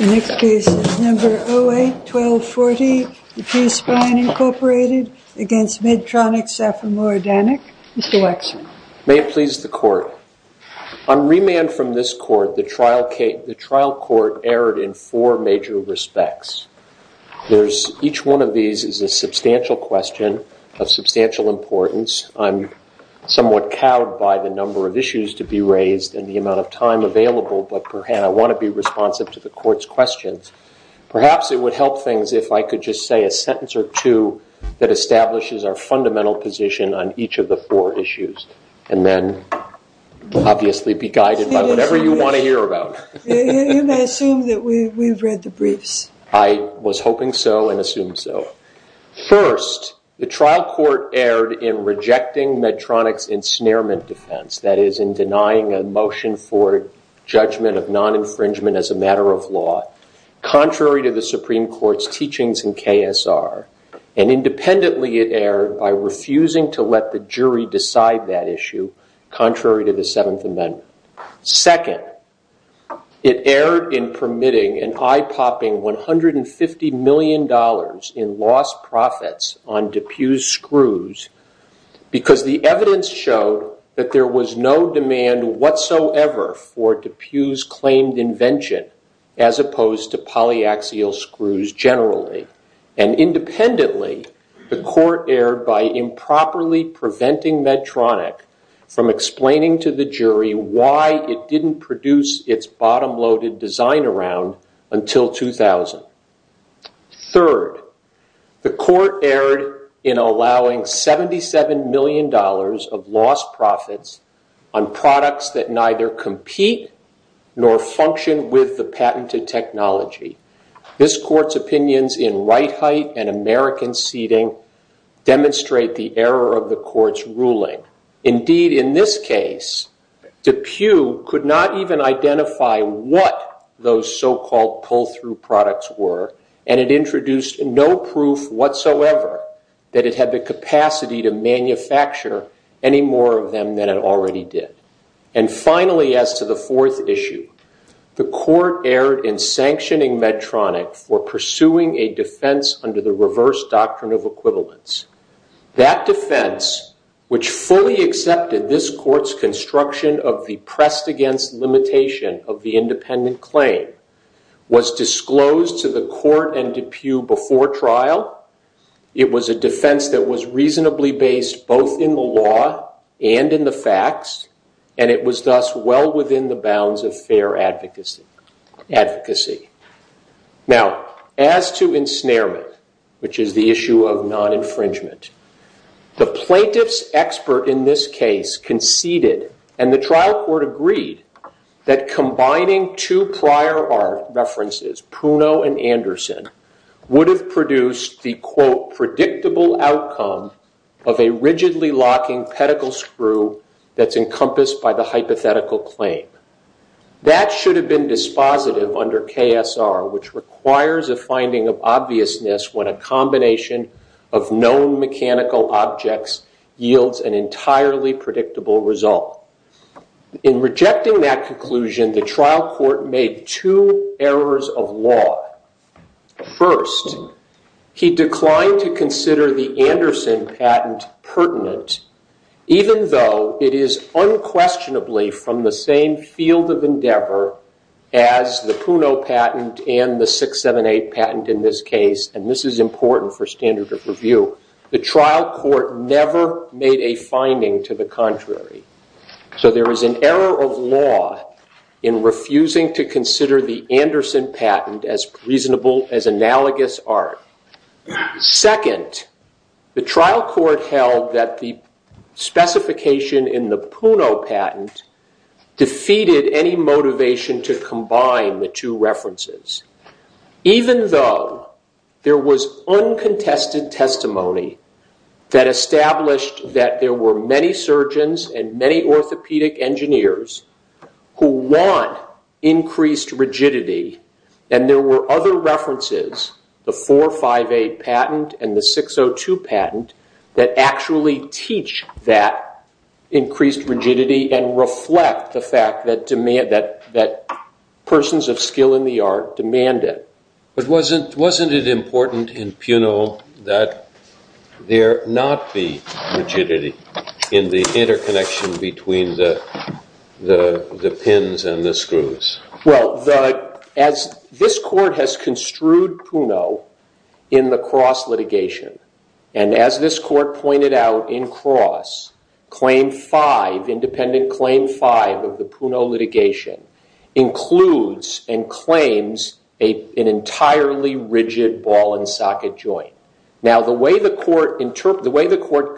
May it please the court. On remand from this court, the trial court erred in four major respects. Each one of these is a substantial question of substantial importance. I'm somewhat cowed by the number of issues to be raised and the amount of time available, but I want to be responsive to the court's questions. Perhaps it would help things if I could just say a sentence or two that establishes our fundamental position on each of the four issues, and then obviously be guided by whatever you want to hear about. You may assume that we've read the briefs. I was hoping so and assume so. First, the trial court erred in rejecting Medtronic's ensnarement defense, that is, in denying a motion for judgment of non-infringement as a matter of law, contrary to the Supreme Court's teachings in KSR. Independently, it erred by refusing to let the jury decide that issue contrary to the Seventh Amendment. Second, it erred in permitting an eye-popping $150 million in lost profits on DePuy's screws because the evidence showed that there was no demand whatsoever for DePuy's claimed invention as opposed to polyaxial screws generally. And independently, the court erred by improperly preventing Medtronic from explaining to the jury why it didn't produce its bottom-loaded design around until 2000. Third, the court erred in allowing $77 million of lost profits on products that neither compete nor function with the patented technology. This court's opinions in right height and American seating demonstrate the error of the court's ruling. Indeed, in this case, DePuy could not even identify what those so-called pull-through products were, and it introduced no proof whatsoever that it had the capacity to manufacture any more of them than it already did. And finally, as to the fourth issue, the court erred in sanctioning Medtronic for pursuing a defense under the reverse doctrine of equivalence. That defense, which fully accepted this court's construction of the pressed-against limitation of the independent claim, was disclosed to the court and DePuy before trial. It was a defense that was reasonably based both in the law and in the facts, and it was thus well within the bounds of fair advocacy. Now, as to ensnarement, which is the issue of non-infringement, the plaintiff's expert in this case conceded, and the trial court agreed, that combining two prior art references, Pruno and Anderson, would have produced the quote, predictable outcome of a rigidly-locking pedicle screw that's encompassed by the hypothetical claim. That should have been dispositive under KSR, which requires a finding of obviousness when a combination of known mechanical objects yields an entirely predictable result. In rejecting that conclusion, the trial court made two errors of law. First, he declined to consider the Anderson patent pertinent, even though it is unquestionably from the same field of endeavor as the Pruno patent and the 678 patent in this case, and this is important for standard of review. The trial court never made a finding to the contrary. So there is an error of law in refusing to consider the Anderson patent as analogous art. Second, the trial court held that the specification in the Pruno patent did not defeat any motivation to combine the two references, even though there was uncontested testimony that established that there were many surgeons and many orthopedic engineers who want increased rigidity, and there were other references, the 458 patent and the 602 patent, that actually teach that increased rigidity and reflect the fact that persons of skill in the art demand it. But wasn't it important in Pruno that there not be rigidity in the interconnection between the pins and the screws? Well, as this court has construed Pruno in the Cross litigation, and as this court pointed out in Cross, claim five, independent claim five of the Pruno litigation includes and claims an entirely rigid ball and socket joint. Now, the way the court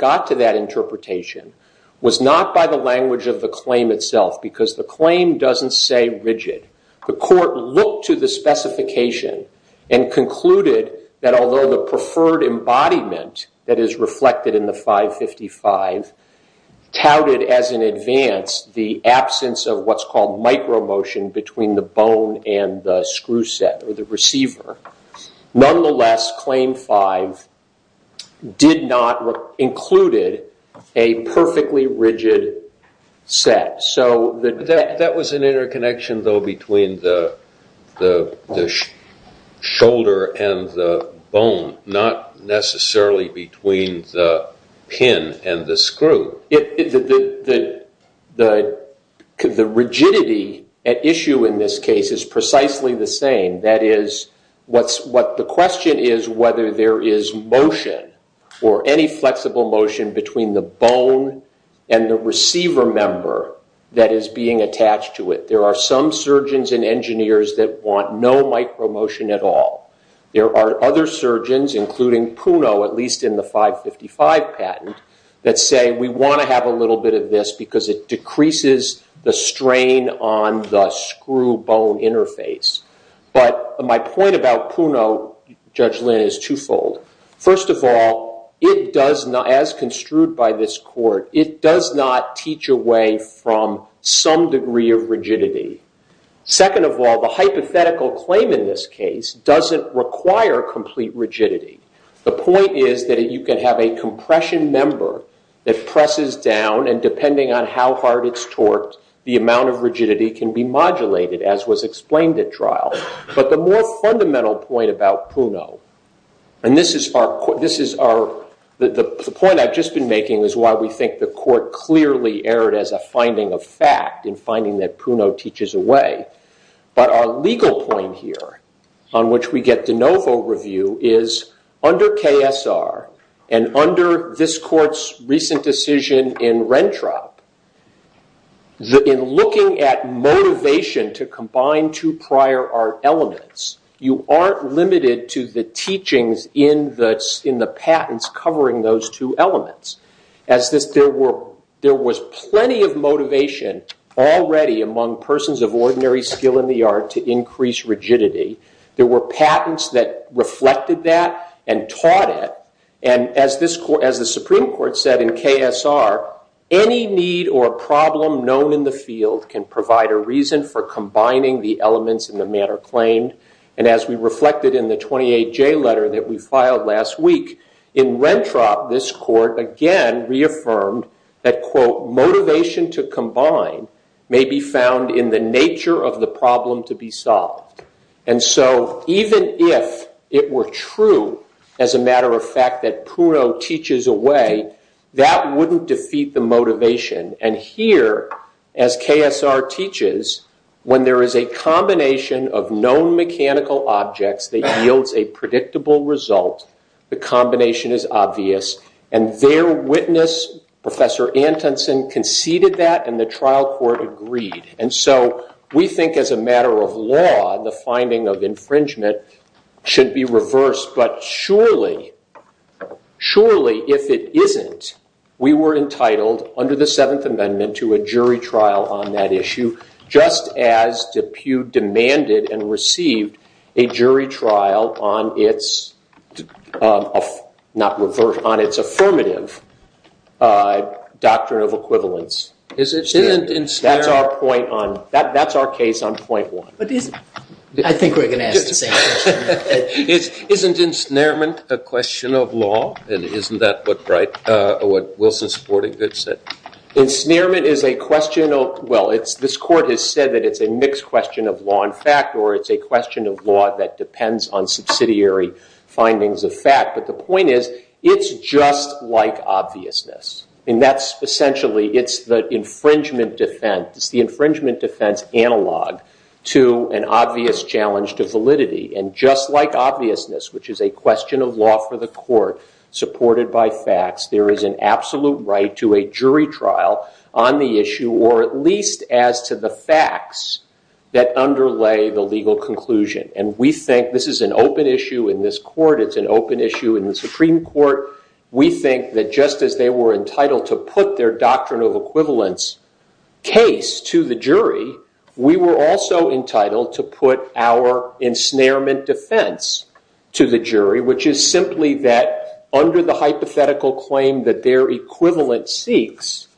got to that interpretation was not by the language of the claim itself, because the claim doesn't say rigid. The court looked to the specification and concluded that although the preferred embodiment that is reflected in the 555 touted as an advance the absence of what's called micro motion between the bone and the screw set or the receiver, nonetheless, claim five did not or included a perfectly rigid set. That was an interconnection, though, between the shoulder and the bone, not necessarily between the pin and the screw. The rigidity at issue in this case is precisely the same. That is, what the question is whether there is motion or any flexible motion between the bone and the receiver member that is being attached to it. There are some surgeons and engineers that want no micro motion at all. There are other surgeons, including Pruno, at least in the 555 patent, that say we want to have a little bit of this because it decreases the strain on the screw bone interface. But my point about Pruno, Judge Lynn, is twofold. First of all, as construed by this court, it does not teach away from some degree of rigidity. Second of all, the hypothetical claim in this case doesn't require complete rigidity. The point is that you can have a compression member that presses down and depending on how hard it's torqued, the amount of rigidity can be modulated, as was explained at trial. But the more fundamental point about Pruno, and the point I've just been making is why we think the court clearly erred as a finding of fact in finding that Pruno teaches away. But our legal point here, on which we get de novo review, is under KSR and under this court's recent decision in Rentrop, in looking at motivation to combine two prior art elements, you aren't limited to the teachings in the patents covering those two elements. There was plenty of motivation already among persons of ordinary skill in the art to increase rigidity. There were patents that reflected that and taught it. As the Supreme Court said in KSR, any need or problem known in the field can provide a reason for combining the elements in the matter claimed. And as we reflected in the 28J letter that we filed last week, in Rentrop, this court again reaffirmed that quote, motivation to combine may be found in the nature of the problem to be solved. And so even if it were true, as a matter of fact, that Pruno teaches away, that wouldn't defeat the motivation. And here, as KSR teaches, when there is a combination of known mechanical objects that yields a predictable result, the combination is obvious. And their witness, Professor Antonsen, conceded that and the trial court agreed. And so we think as a matter of law, the finding of infringement should be reversed. But surely, surely if it isn't, we were entitled, under the Seventh Amendment, to a jury trial on that issue, just as DePue demanded and received a jury trial on its affirmative doctrine of equivalence. That's our case on point one. But isn't, I think we're going to ask the same question. Isn't ensnarement a question of law? And isn't that what Wilson Sporting Goods said? Ensnarement is a question of, well, this court has said that it's a mixed question of law and fact, or it's a question of law that depends on subsidiary findings of fact. But the point is, it's just like obviousness. And that's essentially, it's the infringement defense, it's the infringement defense analog to an obvious challenge to validity. And just like obviousness, which is a question of law for the court, supported by facts, there is an absolute right to a jury trial on the issue, or at least as to the facts that underlay the legal conclusion. And we think this is an open issue in this court. It's an open issue in the Supreme Court. We think that just as they were entitled to put their doctrine of equivalence case to the jury, we were also entitled to put our ensnarement defense to the jury, which is simply that under the hypothetical claim that their equivalent seeks,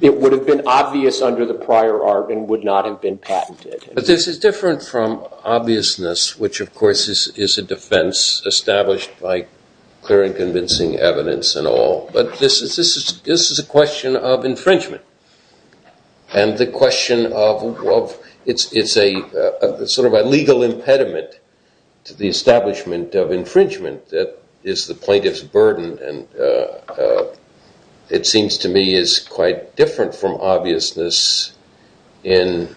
it would have been obvious under the prior art and would not have been patented. This is different from obviousness, which of course is a defense established by clear convincing evidence and all. But this is a question of infringement. And the question of, it's sort of a legal impediment to the establishment of infringement that is the plaintiff's burden. And it seems to me is quite different from obviousness in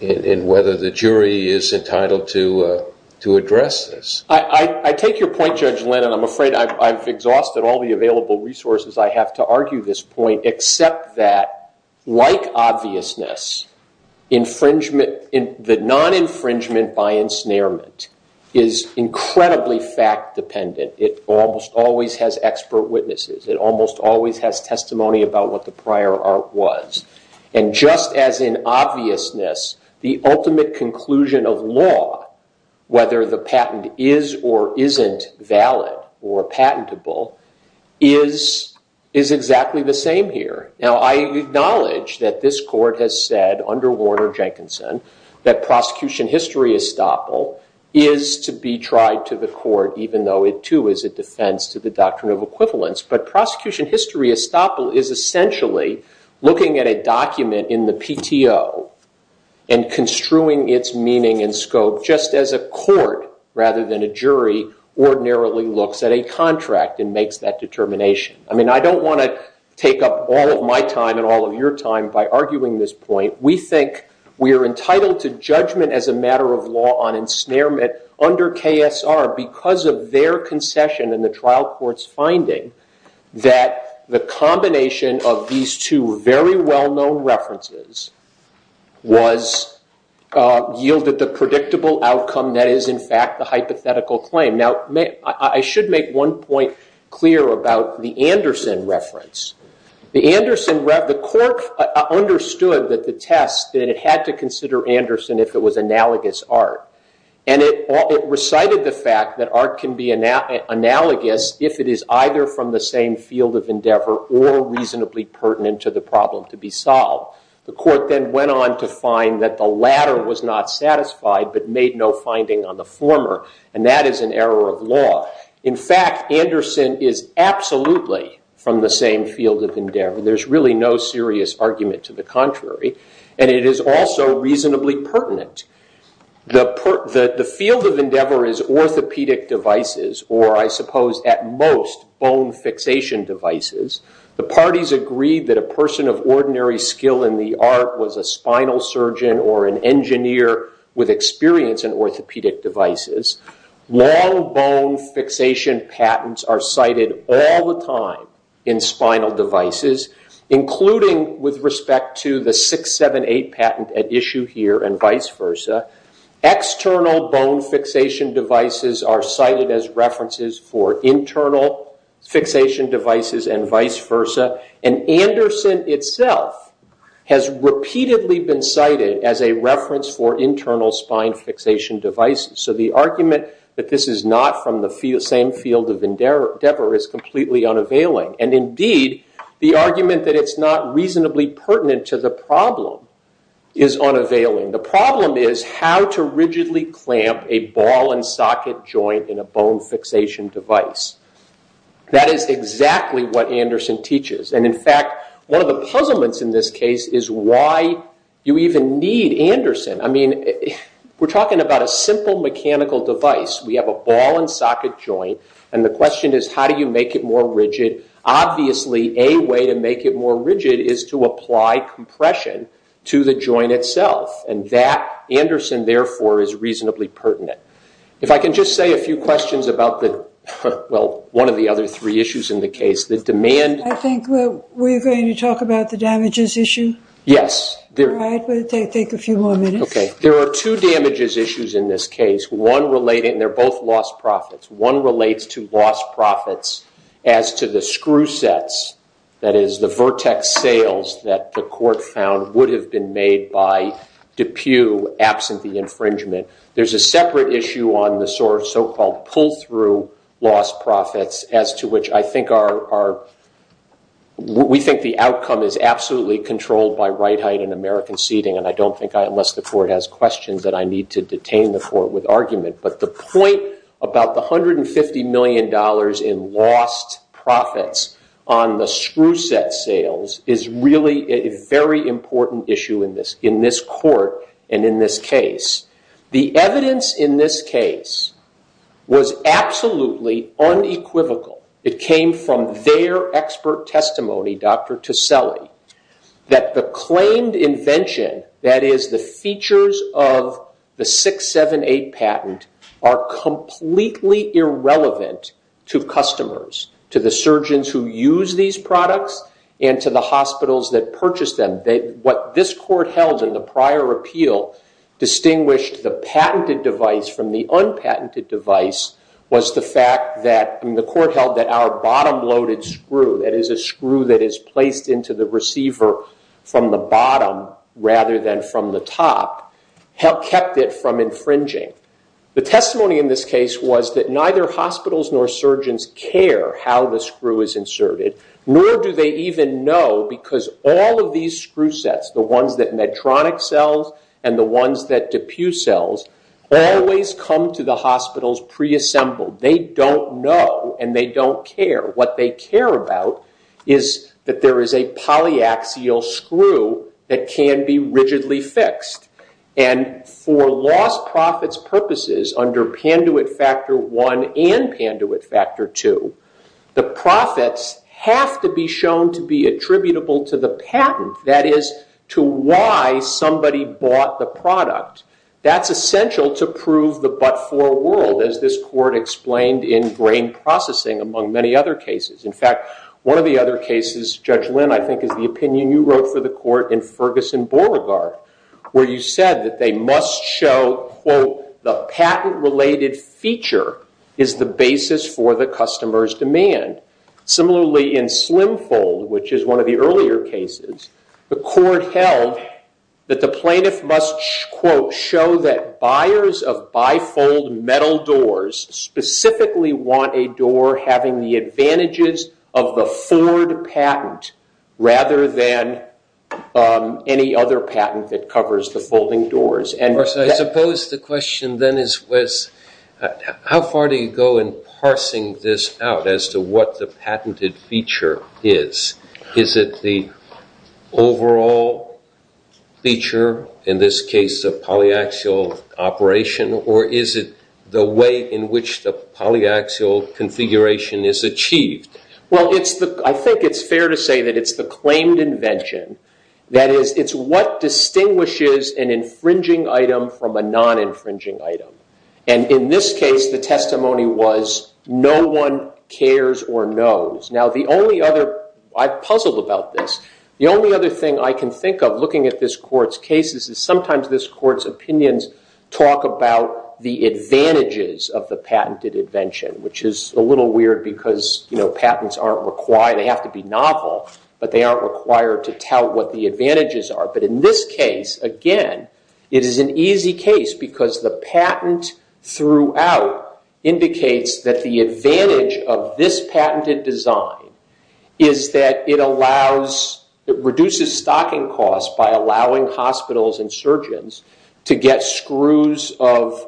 whether the jury is entitled to address this. I take your point, Judge Lennon. I'm afraid I've exhausted all the available resources I have to argue this point, except that like obviousness, the non-infringement by ensnarement is incredibly fact dependent. It almost always has expert witnesses. It almost always has testimony about what the prior art was. And just as in obviousness, the ultimate conclusion of law, whether the patent is or isn't valid or patentable, is exactly the same here. Now I acknowledge that this court has said under Warner Jenkinson that prosecution history estoppel is to be tried to the court, even though it too is a defense to the doctrine of equivalence. But prosecution history estoppel is essentially looking at a document in the PTO and construing its meaning and scope just as a court, rather than a jury, ordinarily looks at a contract and makes that determination. I mean, I don't want to take up all of my time and all of your time by arguing this point. We think we are entitled to judgment as a matter of law on ensnarement under KSR because of their concession in the trial court's finding that the combination of these two very well-known references was yielded the predictable outcome that is, in fact, the hypothetical claim. I should make one point clear about the Anderson reference. The Anderson ‑‑ the court understood that the test that it had to consider Anderson if it was analogous art. And it recited the fact that art can be analogous if it is either from the same field of endeavor or reasonably pertinent to the problem to be solved. The court then went on to find that the latter was not satisfied but made no finding on the former. And that is an error of law. In fact, Anderson is absolutely from the same field of endeavor. There is really no serious argument to the contrary. And it is also reasonably pertinent. The field of endeavor is always orthopedic devices or I suppose at most bone fixation devices. The parties agreed that a person of ordinary skill in the art was a spinal surgeon or an engineer with experience in orthopedic devices. Long bone fixation patents are cited all the time in spinal devices including with respect to the 678 patent at issue here and vice versa. External bone fixation devices are cited as references for internal fixation devices and vice versa. And Anderson itself has repeatedly been cited as a reference for internal spine fixation devices. So the argument that this is not from the same field of endeavor is completely unavailing. And indeed the argument that it is not reasonably pertinent to the problem is unavailing. The problem is how to rigidly clamp a ball and socket joint in a bone fixation device. That is exactly what Anderson teaches. And in fact one of the puzzlements in this case is why you even need Anderson. I mean we are talking about a simple mechanical device. We have a ball and socket joint and the question is how do you make it more rigid. Obviously a way to make it more rigid is to apply compression to the joint itself. And that Anderson therefore is reasonably pertinent. If I can just say a few questions about one of the other three issues in the case. I think we are going to talk about the damages issue. Yes. It will take a few more minutes. There are two damages issues in this case. They are both lost profits. One relates to lost profits as to the screw sets, that is the vertex sails that the court found would have been made by DePue absent the infringement. There is a separate issue on the so-called pull through lost profits as to which I think our, we think the outcome is absolutely controlled by right height and American seating. And the point about the $150 million in lost profits on the screw set sails is really a very important issue in this court and in this case. The evidence in this case was absolutely unequivocal. It came from their expert testimony, Dr. Teselli, that the claimed invention, that is the features of the 678 patent, are completely irrelevant to customers, to the surgeons who use these products and to the hospitals that purchase them. What this court held in the prior appeal distinguished the patented device from the unpatented device was the fact that, the court held that our bottom loaded screw, that is a screw that is placed into the receiver from the bottom rather than from the top, kept it from infringing. The testimony in this case was that neither hospitals nor surgeons care how the screw is inserted, nor do they even know because all of these screw sets, the ones that Medtronic sells and the ones that DePue sells, always come to the hospitals preassembled. They don't know and they don't care. What they care about is that there is a polyaxial screw that can be rigidly fixed. And for lost profits purposes under Panduit Factor 1 and Panduit Factor 2, the profits have to be shown to be attributable to the patent, that is to why somebody bought the product. That's essential to prove the but brain processing among many other cases. In fact, one of the other cases, Judge Lynn, I think is the opinion you wrote for the court in Ferguson-Borregaard, where you said that they must show, quote, the patent related feature is the basis for the customer's demand. Similarly in Slimfold, which is one of the earlier cases, the court held that the plaintiff must, quote, show that buyers of bifold metal doors specifically want a door having the advantages of the Ford patent rather than any other patent that covers the folding doors. I suppose the question then is, how far do you go in parsing this out as to what the patented feature is? Is it the overall feature, in this case the polyaxial operation, or is it the way in which the polyaxial configuration is achieved? Well, I think it's fair to say that it's the claimed invention. That is, it's what distinguishes an infringing item from a non-infringing item. And in this case, the testimony was no one cares or knows. Now the only other, I'm puzzled about this, the only other thing I can think of looking at this court's cases is sometimes this court's opinions talk about the advantages of the patented invention, which is a little weird because patents aren't required, they have to be novel, but they aren't required to tell what the advantages are. But in this case, again, it is an easy case because the patent throughout indicates that the advantage of this patented design is that it allows, it reduces stocking costs by allowing hospitals and surgeons to get screws of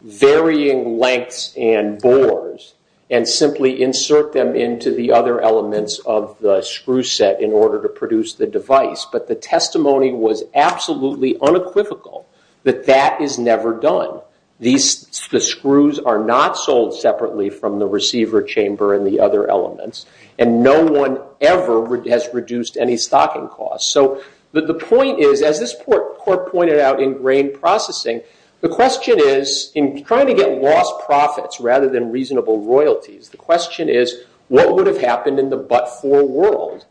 varying lengths and bores and simply insert them into the other elements of the screw set in order to produce the device. But the testimony was absolutely unequivocal that that is never done. The screws are not sold separately from the receiver chamber and the other elements, and no one ever has reduced any stocking costs. So the point is, as this court pointed out in grain processing, the question is, in trying to get lost profits rather than reasonable royalties, the question is what would have happened in the but-for world?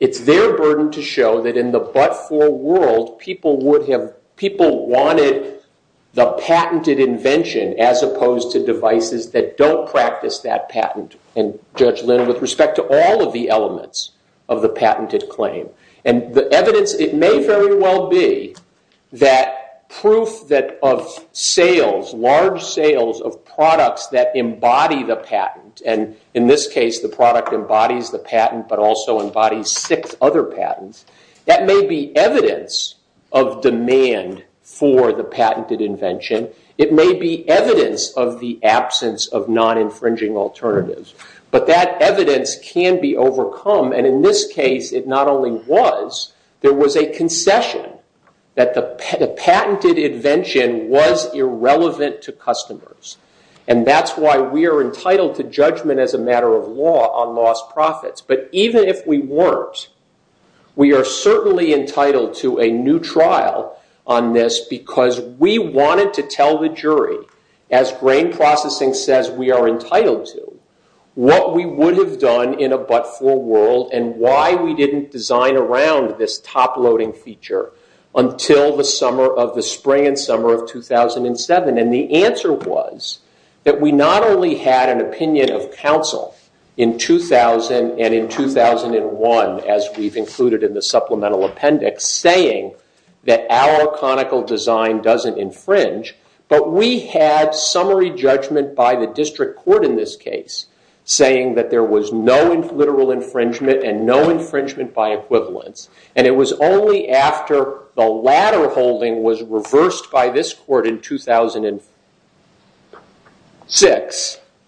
It's their burden to show that in the but-for world, people would have, people wanted the patented invention as opposed to devices that don't practice that patent, and Judge Linn, with respect to all of the elements of the patented claim. And the evidence, it may very well be that proof that of sales, large sales of products that embody the patent, and in this case, the product embodies the patent but also embodies six other patents, that may be evidence of demand for the patented invention. It may be evidence of the absence of non-infringing alternatives. But that evidence can be overcome, and in this case, it not only was, there was a concession that the patented invention was irrelevant to customers. And that's why we are entitled to judgment as a matter of law on lost profits. But even if we weren't, we are certainly entitled to a new trial on this, because we wanted to tell the jury, as grain processing says we are entitled to, what we would have done in a but-for world and why we didn't design around this top-loading feature until the summer of the spring and summer of 2007. And the answer was that we not only had an opinion of counsel in 2000 and in 2001, as we've included in the supplemental appendix, saying that our conical design doesn't infringe, but we had summary judgment by the district court in this case, saying that there was no literal infringement and no infringement by equivalence. And it was only after the latter holding was reversed by this court in 2006,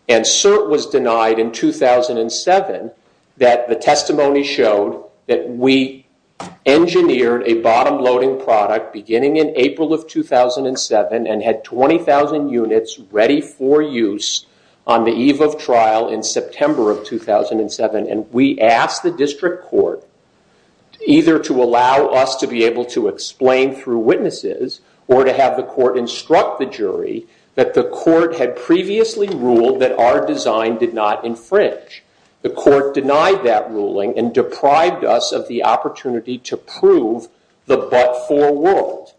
and certainly was denied in 2007, that the testimony showed that we engineered a bottom-loading product beginning in April of 2007 and had 20,000 units ready for use on the eve of trial in September of 2007. And we asked the district court either to allow us to be able to explain through witnesses or to have the court instruct the jury that the court had previously ruled that our design did not infringe. The court denied that ruling and deprived us of the opportunity to prove the but-for world.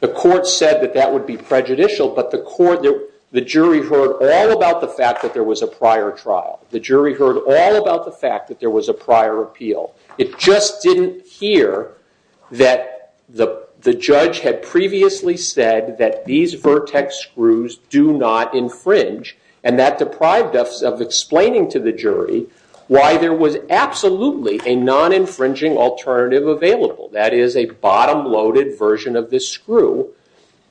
The court said that that would be prejudicial, but the jury heard all about the fact that there was a prior trial. The jury heard all about the fact that there was a prior appeal. It just didn't hear that the judge had previously said that these vertex screws do not infringe, and that deprived us of explaining to the jury why there was absolutely a non-infringing alternative available, that is, a bottom-loaded version of this screw.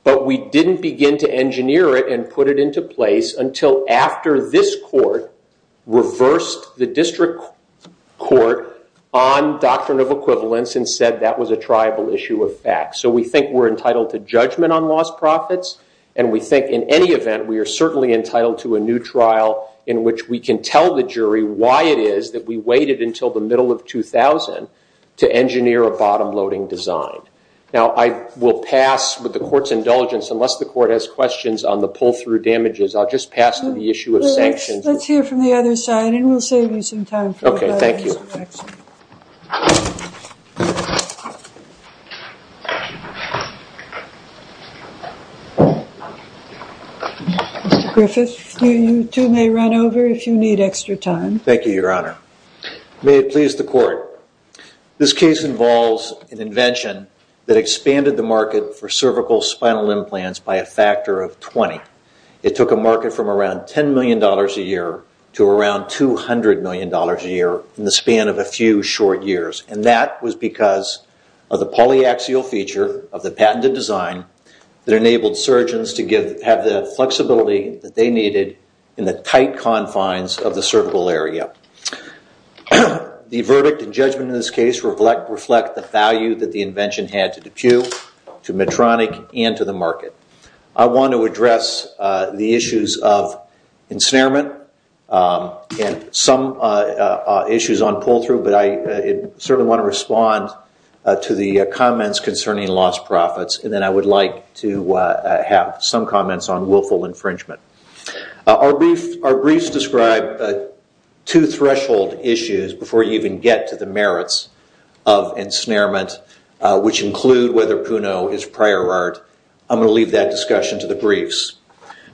But we didn't begin to engineer it and put it into place until after this court reversed the district court on doctrine of equivalence and said that was a triable issue of fact. So we think we're entitled to judgment on lost profits, and we think in any event we are certainly entitled to a new trial in which we can tell the jury why it is that we waited until the middle of 2000 to engineer a bottom-loading design. Now I will pass with the court's indulgence, unless the court has questions on the pull-through damages, I'll just pass to the issue of sanctions. Let's hear from the other side, and we'll save you some time for the next question. Mr. Griffith, you too may run over if you need extra time. Thank you, Your Honor. May it please the court, this case involves an invention that expanded the market for cervical spinal implants by a factor of 20. It took a market from around $10 million a year to around $200 million a year in the span of a few short years, and that was because of the polyaxial feature of the patented design that enabled surgeons to have the flexibility that they needed in the tight confines of the cervical area. The verdict and judgment in this case reflect the value that the invention had to DePue, to Medtronic, and to the market. I want to address the issues of ensnarement and some issues on pull-through, but I certainly want to respond to the comments concerning lost profits, and then I would like to have some comments on willful infringement. Our briefs describe two threshold issues before you even get to the merits of ensnarement, which include whether Puno is prior art. I'm going to leave that discussion to the briefs.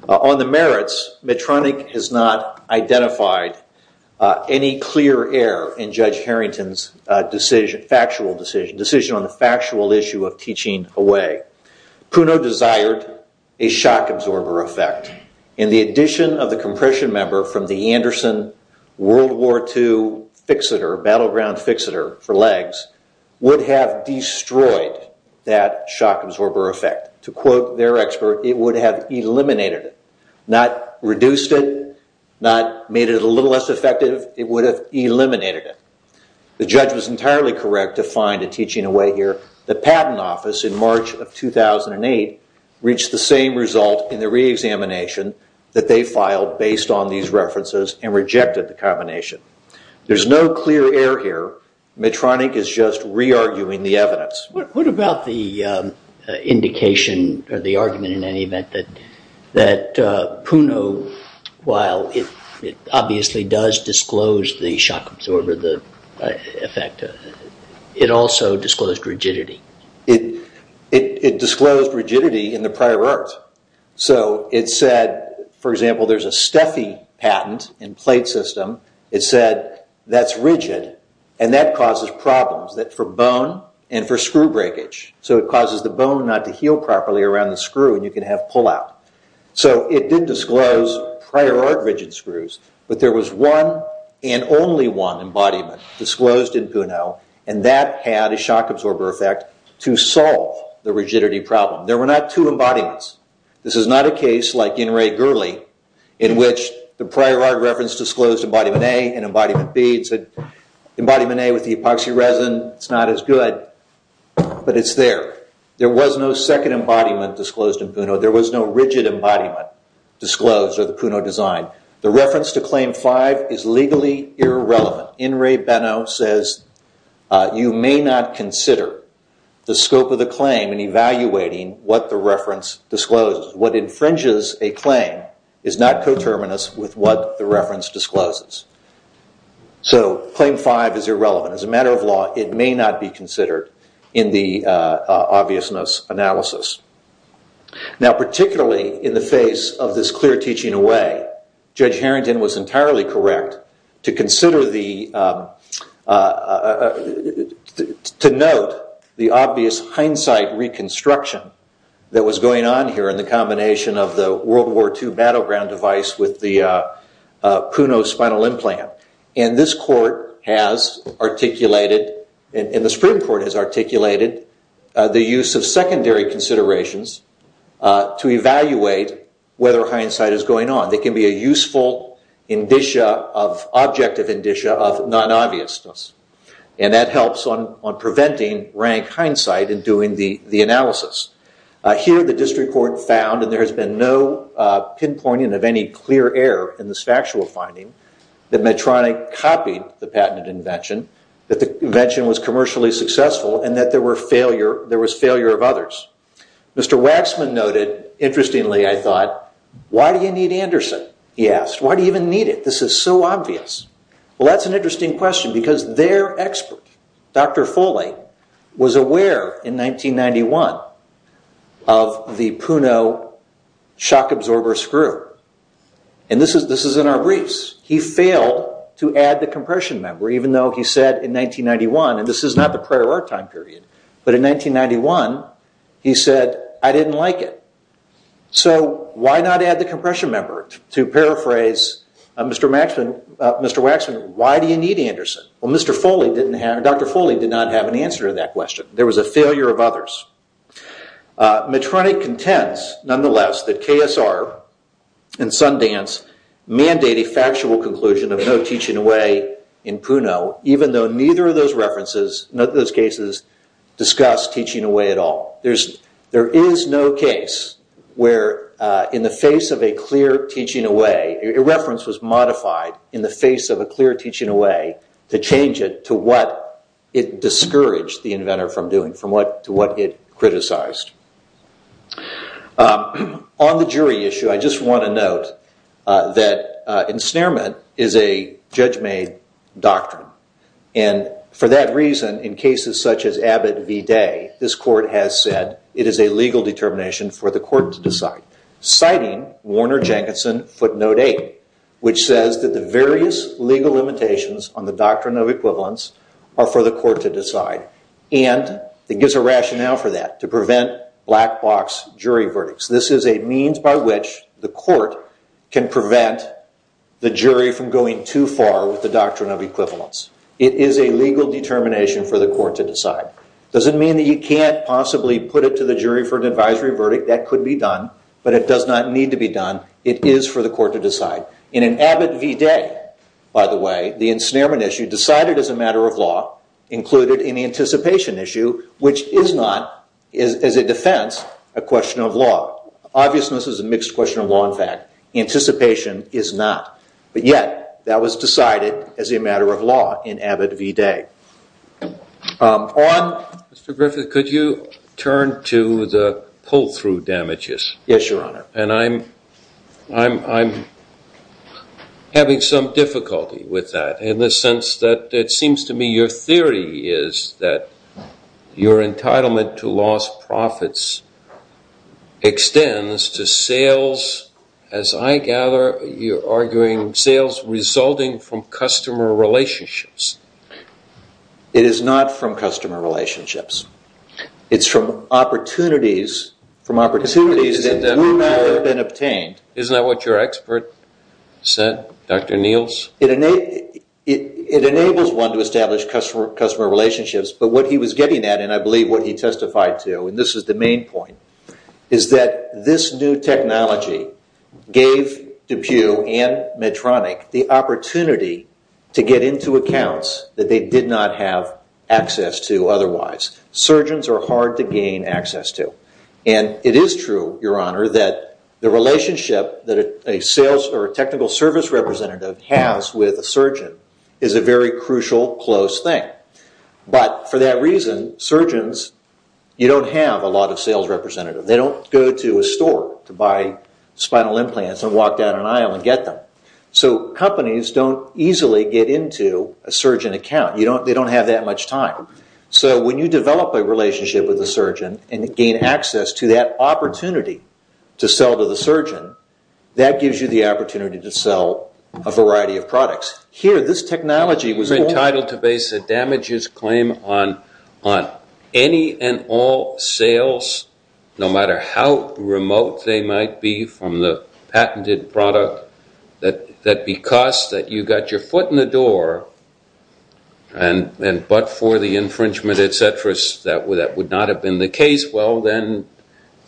On the merits, Medtronic has not identified any clear error in Judge Harrington's decision, factual decision, decision on the factual issue of teaching away. Puno desired a shock absorber effect, and the addition of the compression member from the Anderson World War II fixator, battleground fixator for legs, would have destroyed that shock absorber effect. To quote their expert, it would have eliminated it, not reduced it, not made it a little less effective. It would have eliminated it. The judge was entirely correct to find a teaching away here. The patent office in March of 2008 reached the same result in the reexamination that they filed based on these references and rejected the combination. There's no clear error here. Medtronic is just re-arguing the evidence. What about the indication or the argument in any event that Puno, while it obviously does disclose the shock absorber effect, it also disclosed rigidity? It disclosed rigidity in the prior art. It said, for example, there's a Steffi patent in plate system. It said that's rigid, and that causes problems for bone and for screw breakage. It causes the bone not to heal properly around the screw, and you can have pullout. It did disclose prior art rigid screws, but there was one and only one embodiment disclosed in Puno, and that had a shock absorber effect to solve the rigidity problem. There were not two embodiments. This is not a case like In Re Gurley, in which the prior art reference disclosed embodiment A and embodiment B. It said embodiment A with the epoxy resin, it's not as good, but it's there. There was no second embodiment disclosed in Puno. There was no rigid embodiment disclosed of the Puno design. The reference to Claim 5 is legally irrelevant. In Re Beno says you may not consider the scope of the claim in evaluating what the reference discloses. What infringes a claim is not coterminous with what the reference discloses. So Claim 5 is irrelevant. As a matter of law, it may not be considered in the obviousness analysis. Now particularly in the face of this clear teaching away, Judge Harrington was entirely correct to consider the, to note the obvious hindsight reconstruction that was going on here in the combination of the World War II battleground device with the Puno spinal implant. And this court has articulated, and the Supreme Court has articulated, the use of secondary considerations to evaluate whether hindsight is going on. They can be a useful indicia of, objective indicia of non-obviousness. And that helps on preventing rank hindsight in doing the analysis. Here the district court found, and there has been no pinpointing of any clear error in this factual finding, that Medtronic copied the patented invention, that the invention was commercially successful, and that there were failure, there was failure of others. Mr. Waxman noted, interestingly I thought, why do you need Anderson? He asked. Why do you even need it? This is so obvious. Well that's an interesting question because their expert, Dr. Foley, was aware in 1991 of the Puno shock absorber screw. And this is in our briefs. He failed to add the compression member even though he said in 1991, and this is not the prior wartime period, but in 1991 he said, I didn't like it. So why not add the compression member to paraphrase Mr. Waxman, why do you need Anderson? Well Dr. Foley did not have an answer to that question. There was a failure of others. Medtronic contends, nonetheless, that KSR and Sundance mandate a factual conclusion of no teaching away in Puno, even though neither of those references, none of those cases discuss teaching away at all. There is no case where in the face of a clear teaching away, a reference was modified in the face of a clear teaching away to change it to what it discouraged the inventor from doing, to what it criticized. On the jury issue, I just want to note that ensnarement is a judge made doctrine. And for that reason, in cases such as Abbott v. Day, this court has said it is a legal determination for the court to decide. Citing Warner-Jenkinson footnote 8, which says that the various legal limitations on the doctrine of equivalence are for the court to decide. And it gives a rationale for that, to prevent black box jury verdicts. This is a means by which the court can prevent the jury from going too far with the doctrine of equivalence. It is a legal determination for the court to decide. Does it mean that you can't possibly put it to the jury for an advisory verdict? That could be done, but it does not need to be done. It is for the court to decide. In an Abbott v. Day, by the way, the ensnarement issue decided as a matter of law, included in the anticipation issue, which is not, as a defense, a question of law. Obviousness is a mixed question of law, in fact. Anticipation is not. But yet, that was decided as a matter of law in Abbott v. Day. On? Mr. Griffith, could you turn to the pull-through damages? Yes, Your Honor. And I'm having some difficulty with that, in the sense that it seems to me your theory is that your entitlement to lost profits extends to sales, as I gather you're arguing, sales resulting from customer relationships. It is not from customer relationships. It's from opportunities. From opportunities that we know have been obtained. Isn't that what your expert said, Dr. Niels? It enables one to establish customer relationships. But what he was getting at, and I believe what he testified to, and this is the main point, is that this new technology gave DePue and Medtronic the opportunity to get into accounts that they did not have access to otherwise. Surgeons are hard to gain access to. And it is true, Your Honor, that the relationship that a sales or technical service representative has with a surgeon is a very crucial, close thing. But for that reason, surgeons, you don't have a lot of sales representatives. They don't go to a store to buy spinal implants and walk down an aisle and get them. So companies don't easily get into a surgeon account. They don't have that much time. So when you develop a relationship with a surgeon and gain access to that opportunity to sell to the surgeon, that gives you the opportunity to sell a variety of products. Here, this technology was entitled to base a damages claim on any and all sales, no matter how remote they might be from the patented product, that because that you got your foot in the door, and but for the infringement, et cetera, that would not have been the case, well, then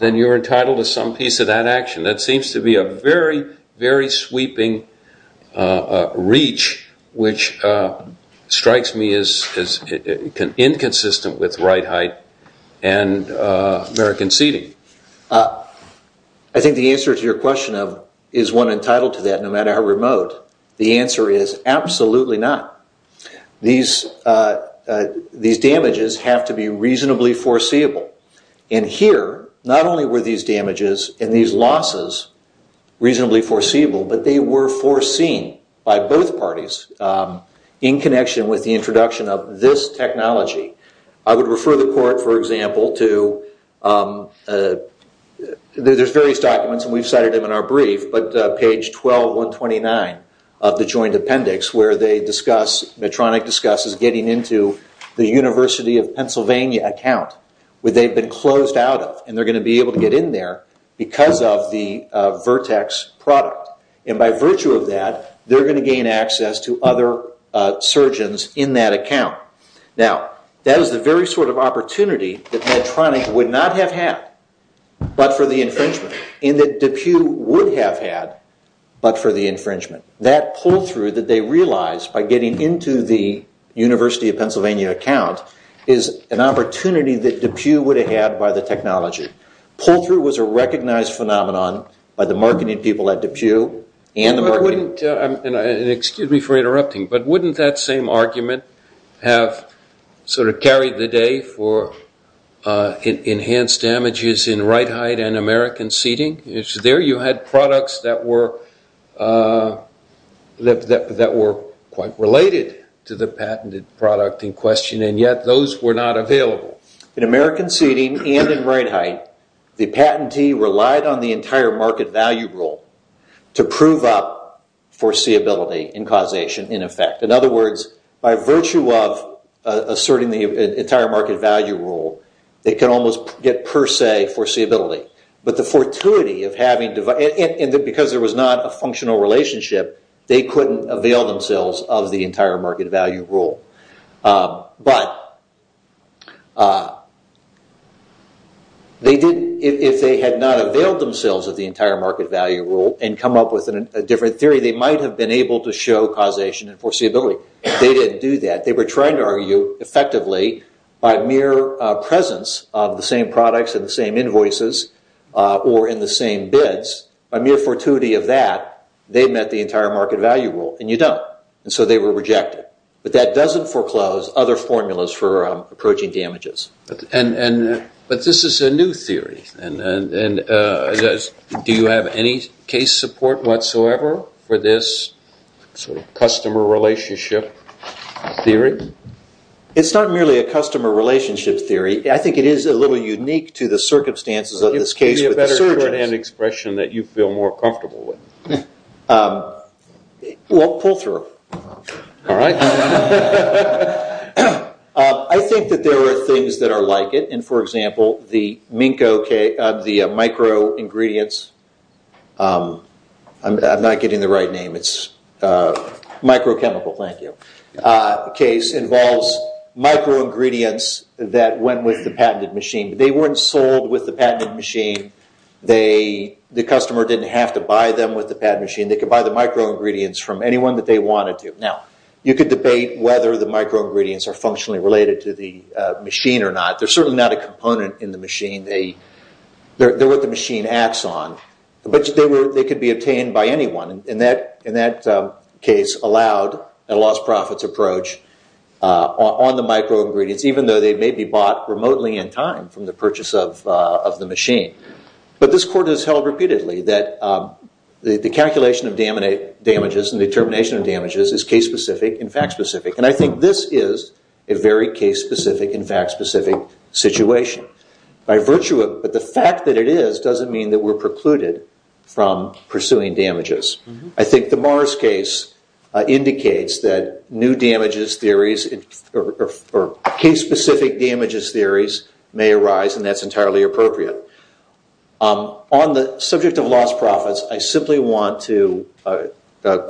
you're entitled to some piece of that action. That seems to be a very, very sweeping reach, which strikes me as inconsistent with right height and American seating. I think the answer to your question of is one entitled to that, no matter how remote, the answer is absolutely not. These damages have to be reasonably foreseeable. And here, not only were these damages and these losses reasonably foreseeable, but they were foreseen by both parties in connection with the introduction of this technology. I would refer the court, for example, to there's various documents and we've cited them in our brief, but page 12129 of the joint appendix where they discuss, Medtronic discusses getting into the University of Pennsylvania account, where they've been closed out of, and they're going to be able to get in there because of the Vertex product. And by virtue of that, they're going to gain access to other surgeons in that account. Now that is the very sort of opportunity that Medtronic would not have had, but for the infringement, and that DePue would have had, but for the infringement. That pull through that they realized by getting into the University of Pennsylvania account is an opportunity that DePue would have had by the technology. Pull through was a recognized phenomenon by the marketing people at DePue and the marketing. Excuse me for interrupting, but wouldn't that same argument have sort of carried the day for enhanced damages in right height and American seating? There you had products that were quite related to the patented product in question, and yet those were not available. In American seating and in right height, the patentee relied on the entire market value rule to prove up foreseeability and causation in effect. In other words, by virtue of asserting the entire market value rule, they can almost get per se foreseeability. But the fortuity of having, and because there was not a functional relationship, they couldn't avail themselves of the entire market value rule. But they did, if they had not availed themselves of the entire market value rule and come up with a different theory, they might have been able to show causation and foreseeability. They didn't do that. They were trying to argue effectively by mere presence of the same products and the same invoices or in the same bids. By mere fortuity of that, they met the entire market value rule, and you don't. And so they were rejected. But that doesn't foreclose other formulas for approaching damages. But this is a new theory, and do you have any case support whatsoever for this sort of customer relationship theory? It's not merely a customer relationship theory. I think it is a little unique to the circumstances of this case. It would be a better expression that you feel more comfortable with. Well, pull through. All right. I think that there are things that are like it. And for example, the micro-ingredients, I'm not getting the right name, it's microchemical, thank you, case involves micro-ingredients that went with the patented machine. They weren't sold with the patented machine. The customer didn't have to buy them with the patented machine. They could buy the micro-ingredients from anyone that they wanted to. Now, you could debate whether the micro-ingredients are functionally related to the machine or not. They're certainly not a component in the machine. They're what the machine acts on. But they could be obtained by anyone. And that case allowed a lost profits approach on the micro-ingredients, even though they may be bought remotely in time from the purchase of the machine. But this court has held repeatedly that the calculation of damages and the termination of damages is case-specific and fact-specific. And I think this is a very case-specific and fact-specific situation. But the fact that it is doesn't mean that we're precluded from pursuing damages. I think the Morris case indicates that new damages theories or case-specific damages theories may arise, and that's entirely appropriate. On the subject of lost profits, I simply want to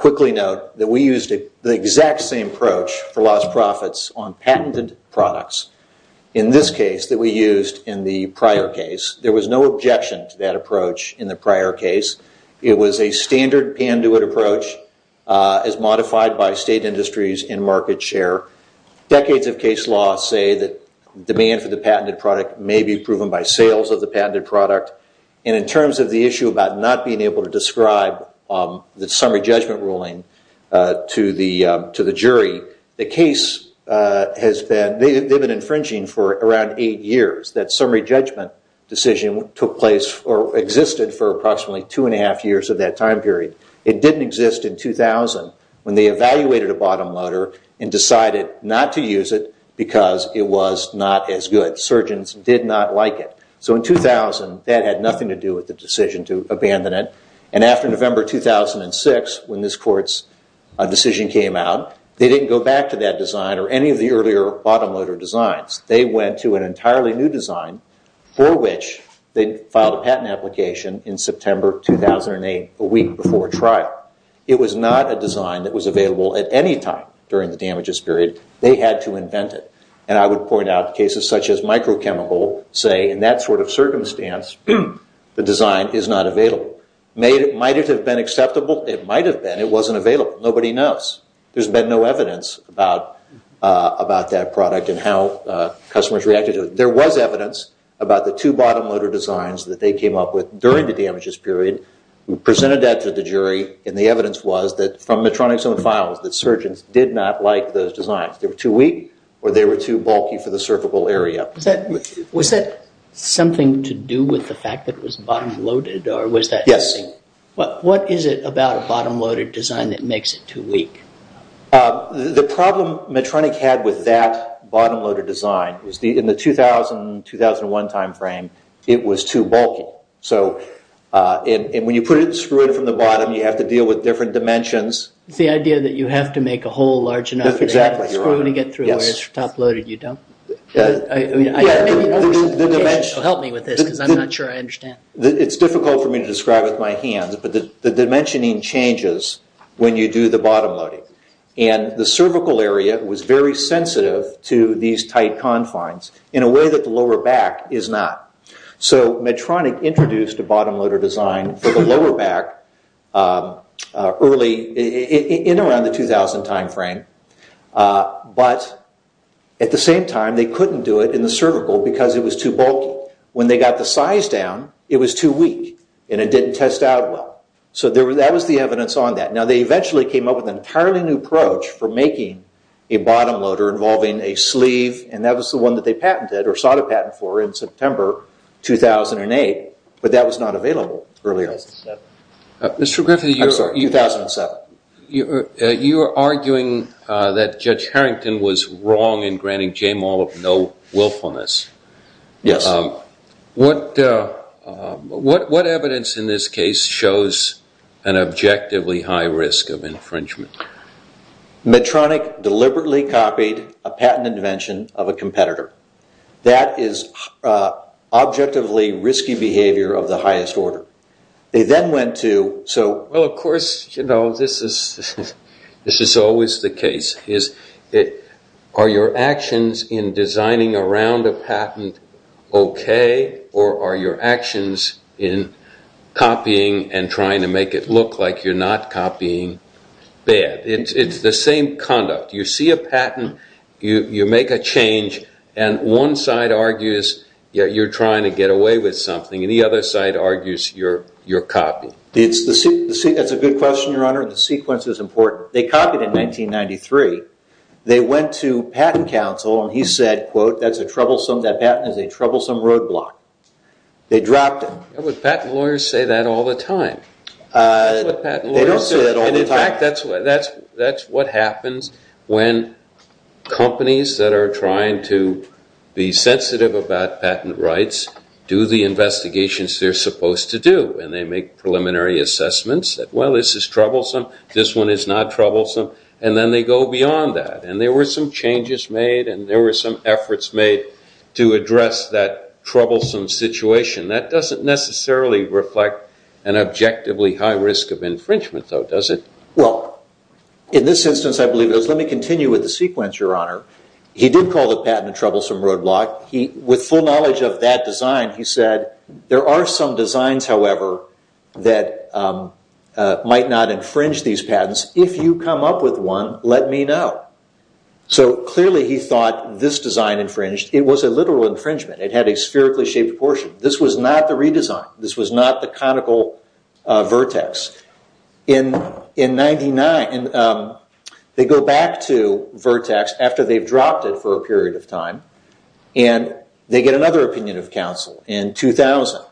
quickly note that we used the exact same approach for lost profits on patented products in this case that we used in the prior case. There was no objection to that approach in the prior case. It was a standard Panduit approach as modified by state industries and market share. Decades of case law say that demand for the patented product may be proven by sales of the patented product. And in terms of the issue about not being able to describe the summary judgment ruling to the jury, the case has been infringing for around eight years. That summary judgment decision took place or existed for approximately two and a half years of that time period. It didn't exist in 2000 when they evaluated a bottom loader and decided not to use it because it was not as good. Surgeons did not like it. So in 2000, that had nothing to do with the decision to abandon it. And after November 2006, when this court's decision came out, they didn't go back to that design or any of the earlier bottom loader designs. They went to an entirely new design for which they filed a patent application in September 2008, a week before trial. It was not a design that was available at any time during the damages period. They had to invent it. And I would point out cases such as microchemical say in that sort of circumstance, the design is not available. Might it have been acceptable? It might have been. It wasn't available. Nobody knows. There's been no evidence about that product and how customers reacted to it. There was evidence about the two bottom loader designs that they came up with during the damages period. We presented that to the jury and the evidence was that from Medtronic's own files that surgeons did not like those designs. They were too weak or they were too bulky for the cervical area. Was that something to do with the fact that it was bottom loaded or was that? Yes. What is it about a bottom loader design that makes it too weak? The problem Medtronic had with that bottom loader design was in the 2000-2001 time frame it was too bulky. So when you put it, screw it from the bottom, you have to deal with different dimensions. It's the idea that you have to make a hole large enough for the screw to get through where it's top loaded. You don't? Help me with this because I'm not sure I understand. It's difficult for me to describe with my hands, but the dimensioning changes when you do the bottom loading and the cervical area was very sensitive to these tight confines in a way that the lower back is not. So Medtronic introduced a bottom loader design for the lower back in around the 2000 time frame, but at the same time they couldn't do it in the cervical because it was too bulky. When they got the size down it was too weak and it didn't test out well. So that was the evidence on that. Now they eventually came up with an entirely new approach for making a bottom loader involving a sleeve and that was the one that they patented or sought a patent for in September 2008, but that was not available earlier. Mr. Griffith, you are arguing that Judge Harrington was wrong in granting J Maul of no willfulness. Yes. What evidence in this case shows an objectively high risk of infringement? Medtronic deliberately copied a patent invention of a competitor. That is objectively risky behavior of the highest order. They then went to, so... Well, of course, you know, this is always the case. Are your actions in designing around a patent okay or are your actions in copying and trying to make it look like you're not copying bad? It's the same conduct. You see a patent, you make a change, and one side argues you're trying to get away with something and the other side argues you're copying. That's a good question, Your Honor. The sequence is important. They copied in 1993. They went to Patent Council and he said, quote, that's a troublesome, that patent is a troublesome roadblock. They dropped it. But patent lawyers say that all the time. They don't say that all the time. And in fact, that's what happens when companies that are trying to be sensitive about patent rights do the investigations they're supposed to do and they make preliminary assessments that, well, this is troublesome, this one is not troublesome, and then they go beyond that. And there were some changes made and there were some efforts made to address that troublesome situation. That doesn't necessarily reflect an objectively high risk of infringement, though, does it? Well, in this instance, I believe it is. Let me continue with the sequence, Your Honor. He did call the patent a troublesome roadblock. With full knowledge of that design, he said, there are some designs, however, that might not infringe these patents. If you come up with one, let me know. So clearly he thought this design infringed. It was a literal infringement. It had a spherically shaped portion. This was not the redesign. This was not the conical vertex. In 1999, they go back to vertex after they've dropped it for a period of time. And they get another opinion of counsel in 2000.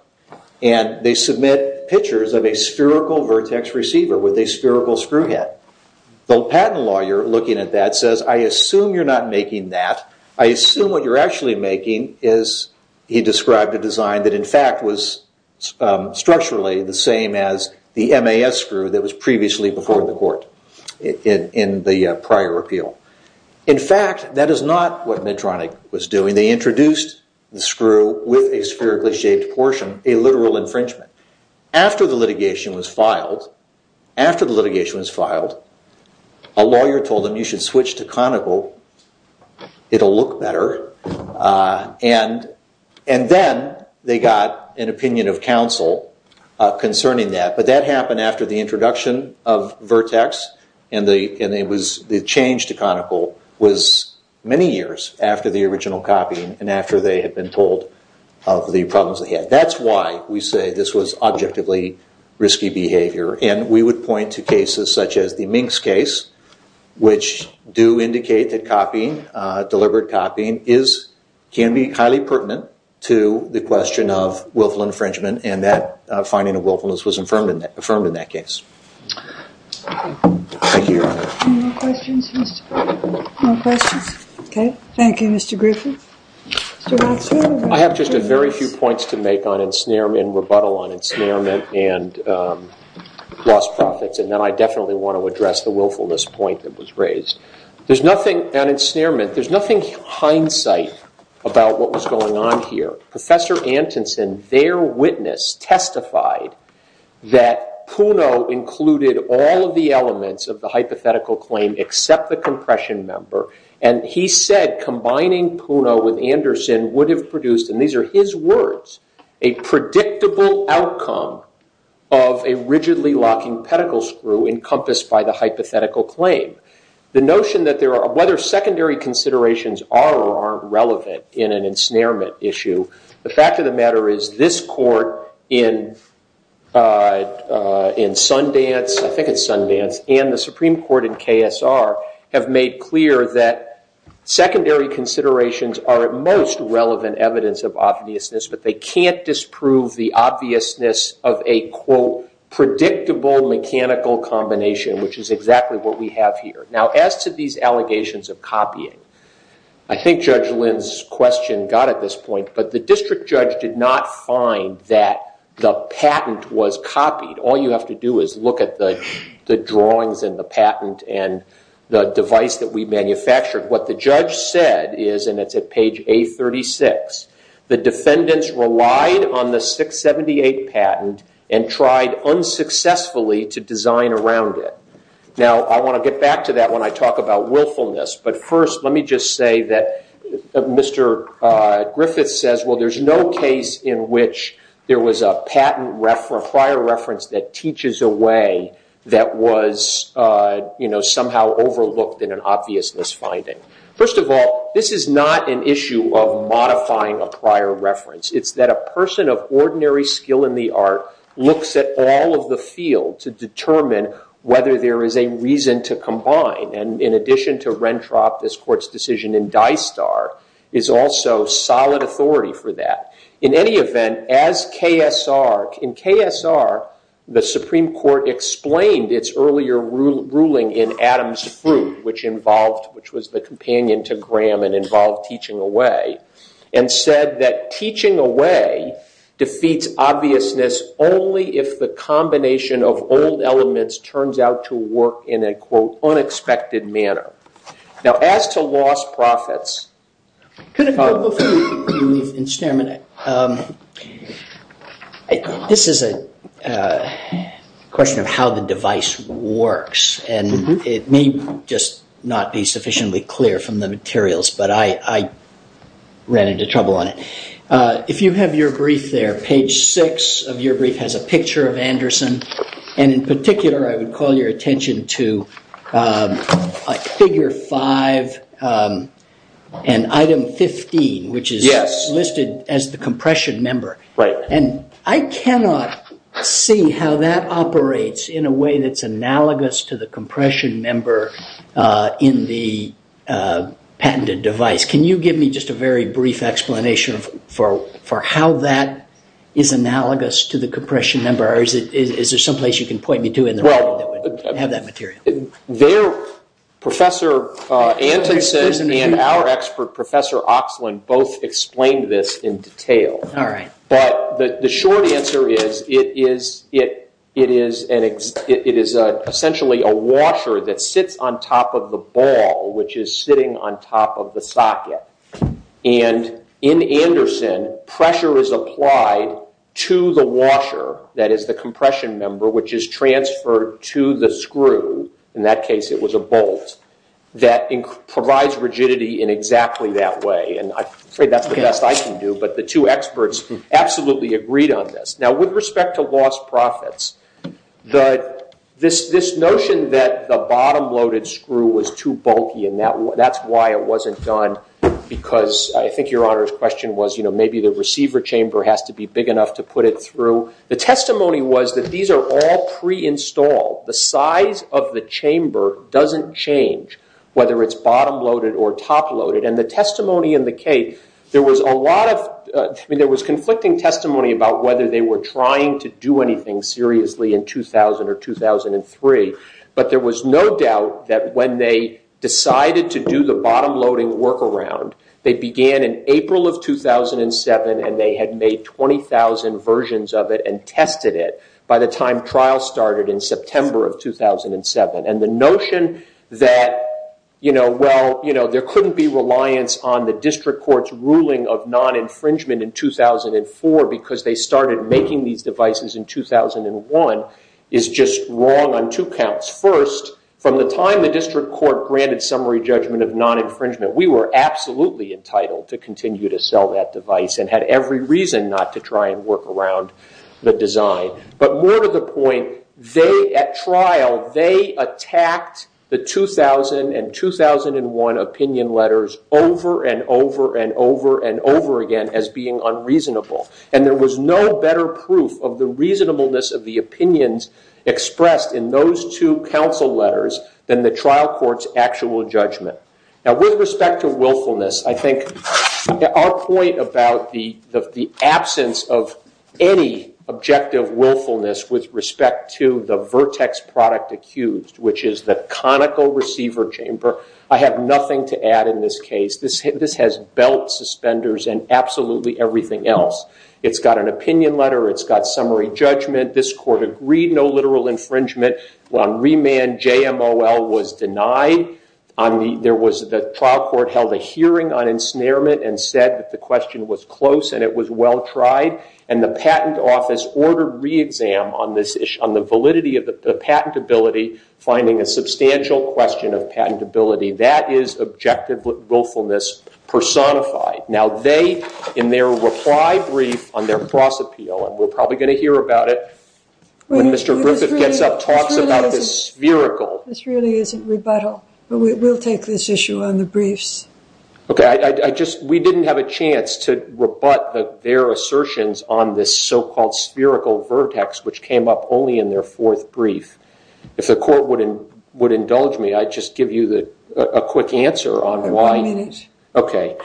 And they submit pictures of a spherical vertex receiver with a spherical screw head. The patent lawyer looking at that says, I assume you're not making that. I assume what you're actually making is, he described a design that, in fact, was structurally the same as the MAS screw that was previously before the court in the prior appeal. In fact, that is not what Medtronic was doing. They introduced the screw with a spherically shaped portion, a literal infringement. After the litigation was filed, after the litigation was filed, a lawyer told them, you should switch to conical. It'll look better. And then they got an opinion of counsel concerning that. But that happened after the introduction of vertex. And the change to conical was many years after the original copying and after they had been told of the problems they had. That's why we say this was objectively risky behavior. And we would point to cases such as the Minks case, which do indicate that deliberate copying can be highly pertinent to the question of willful infringement. And that finding of willfulness was affirmed in that case. Thank you, Your Honor. Any more questions, Mr. Griffin? No questions? OK. Thank you, Mr. Griffin. Mr. Rothschild? I have just a very few points to make on ensnarement, rebuttal on ensnarement and lost profits. And then I definitely want to address the willfulness point that was raised. There's nothing on ensnarement. There's nothing hindsight about what was going on here. Professor Antonsen, their witness, testified that Puno included all of the elements of the hypothetical claim except the compression member. And he said combining Puno with Anderson would have produced, and these are his words, a predictable outcome of a rigidly locking pedicle screw encompassed by the hypothetical claim. The notion that there are, whether secondary considerations are or aren't relevant in an issue, the fact of the matter is this court in Sundance, I think it's Sundance, and the Supreme Court in KSR have made clear that secondary considerations are at most relevant evidence of obviousness. But they can't disprove the obviousness of a, quote, predictable mechanical combination, which is exactly what we have here. As to these allegations of copying, I think Judge Lin's question got at this point, but the district judge did not find that the patent was copied. All you have to do is look at the drawings and the patent and the device that we manufactured. What the judge said is, and it's at page A36, the defendants relied on the 678 patent and tried unsuccessfully to design around it. Now, I want to get back to that when I talk about willfulness. But first, let me just say that Mr. Griffiths says, well, there's no case in which there was a patent prior reference that teaches a way that was somehow overlooked in an obviousness finding. First of all, this is not an issue of modifying a prior reference. It's that a person of ordinary skill in the art looks at all of the field to determine whether there is a reason to combine. And in addition to Rentrop, this court's decision in Dystar is also solid authority for that. In any event, as KSR, in KSR, the Supreme Court explained its earlier ruling in Adam's Fruit, which was the companion to Graham and involved teaching away, and said that teaching away defeats obviousness only if the combination of old elements turns out to work in a, quote, unexpected manner. Now, as to lost profits. Could it go before we leave in Stairman? This is a question of how the device works. And it may just not be sufficiently clear from the materials. But I ran into trouble on it. If you have your brief there, page 6 of your brief has a picture of Anderson. And in particular, I would call your attention to figure 5 and item 15, which is listed as the compression member. And I cannot see how that operates in a way that's analogous to the compression member in the patented device. Can you give me just a very brief explanation for how that is analogous to the compression member? Or is there some place you can point me to in the writing that would have that material? There, Professor Anderson and our expert, Professor Oxlund, both explained this in detail. All right. But the short answer is, it is essentially a washer that sits on top of the ball, which is sitting on top of the socket. And in Anderson, pressure is applied to the washer that is the compression member, which is transferred to the screw. In that case, it was a bolt that provides rigidity in exactly that way. And I'm afraid that's the best I can do. But the two experts absolutely agreed on this. Now, with respect to lost profits, this notion that the bottom-loaded screw was too bulky and that's why it wasn't done, because I think Your Honor's question was, maybe the receiver chamber has to be big enough to put it through. The testimony was that these are all pre-installed. The size of the chamber doesn't change whether it's bottom-loaded or top-loaded. And the testimony in the case, there was a lot of conflicting testimony about whether they were trying to do anything seriously in 2000 or 2003. But there was no doubt that when they decided to do the bottom-loading workaround, they began in April of 2007. And they had made 20,000 versions of it and tested it by the time trial started in September of 2007. And the notion that, well, there couldn't be reliance on the district court's ruling of non-infringement in 2004 because they started making these devices in 2001 is just wrong on two counts. First, from the time the district court granted summary judgment of non-infringement, we were absolutely entitled to continue to sell that device and had every reason not to try and work around the design. But more to the point, at trial, they attacked the 2000 and 2001 opinion letters over and over and over and over again as being unreasonable. And there was no better proof of the reasonableness of the opinions expressed in those two counsel letters than the trial court's actual judgment. Now, with respect to willfulness, I think our point about the absence of any objective willfulness with respect to the vertex product accused, which is the conical receiver chamber, I have nothing to add in this case. This has belt suspenders and absolutely everything else. It's got an opinion letter. It's got summary judgment. This court agreed no literal infringement. On remand, JMOL was denied. There was the trial court held a hearing on ensnarement and said that the question was close and it was well tried. And the patent office ordered re-exam on the validity of the patentability, finding a substantial question of patentability. That is objective willfulness personified. Now, they, in their reply brief on their cross-appeal, and we're probably going to hear about it when Mr. Griffith gets up and talks about the spherical. This really isn't rebuttal, but we'll take this issue on the briefs. OK, we didn't have a chance to rebut their assertions on this so-called spherical vertex, which came up only in their fourth brief. If the court would indulge me, I'd just give you a quick answer on why. OK,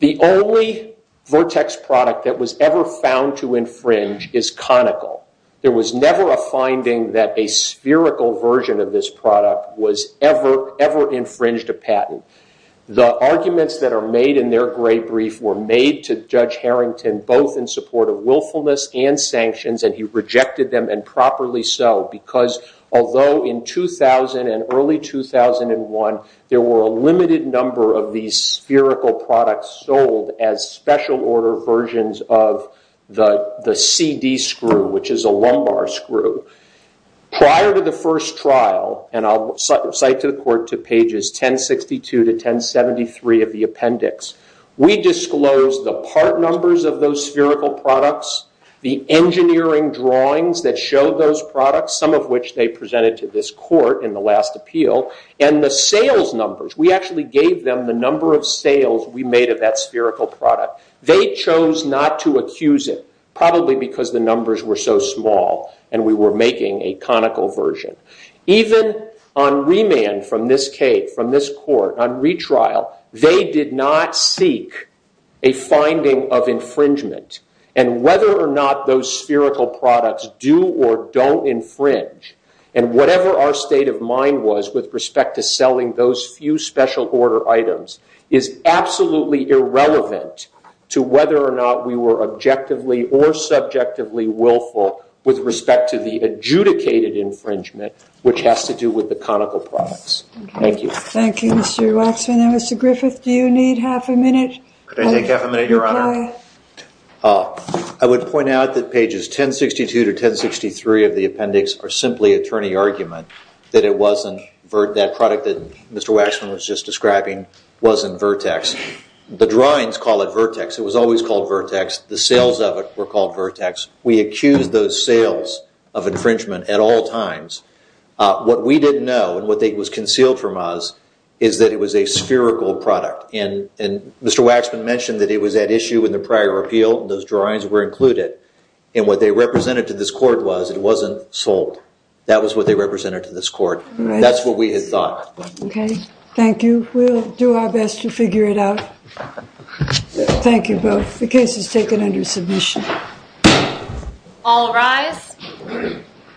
the only vertex product that was ever found to infringe is conical. There was never a finding that a spherical version of this product was ever infringed a patent. The arguments that are made in their gray brief were made to Judge Harrington, both in support of willfulness and sanctions. He rejected them, and properly so, because although in 2000 and early 2001, there were a limited number of these spherical products sold as special order versions of the CD screw, which is a lumbar screw. Prior to the first trial, and I'll cite to the court to pages 1062 to 1073 of the appendix, we disclosed the part numbers of those spherical products, the engineering drawings that showed those products, some of which they presented to this court in the last appeal, and the sales numbers. We actually gave them the number of sales we made of that spherical product. They chose not to accuse it, probably because the numbers were so small and we were making a conical version. Even on remand from this case, from this court, on retrial, they did not seek a finding of infringement. And whether or not those spherical products do or don't infringe, and whatever our state of mind was with respect to selling those few special order items, is absolutely irrelevant to whether or not we were objectively or subjectively willful with respect to the adjudicated infringement, which has to do with the conical products. Thank you. Thank you, Mr. Waxman. Now, Mr. Griffith, do you need half a minute? Could I take half a minute, Your Honor? I would point out that pages 1062 to 1063 of the appendix are simply attorney argument that it wasn't that product that Mr. Waxman was just describing wasn't Vertex. The drawings call it Vertex. It was always called Vertex. The sales of it were called Vertex. We accused those sales of infringement at all times. What we didn't know, and what was concealed from us, is that it was a spherical product. And Mr. Waxman mentioned that it was at issue in the prior appeal. Those drawings were included. And what they represented to this court was it wasn't sold. That was what they represented to this court. That's what we had thought. OK. Thank you. We'll do our best to figure it out. Thank you both. The case is taken under submission. All rise.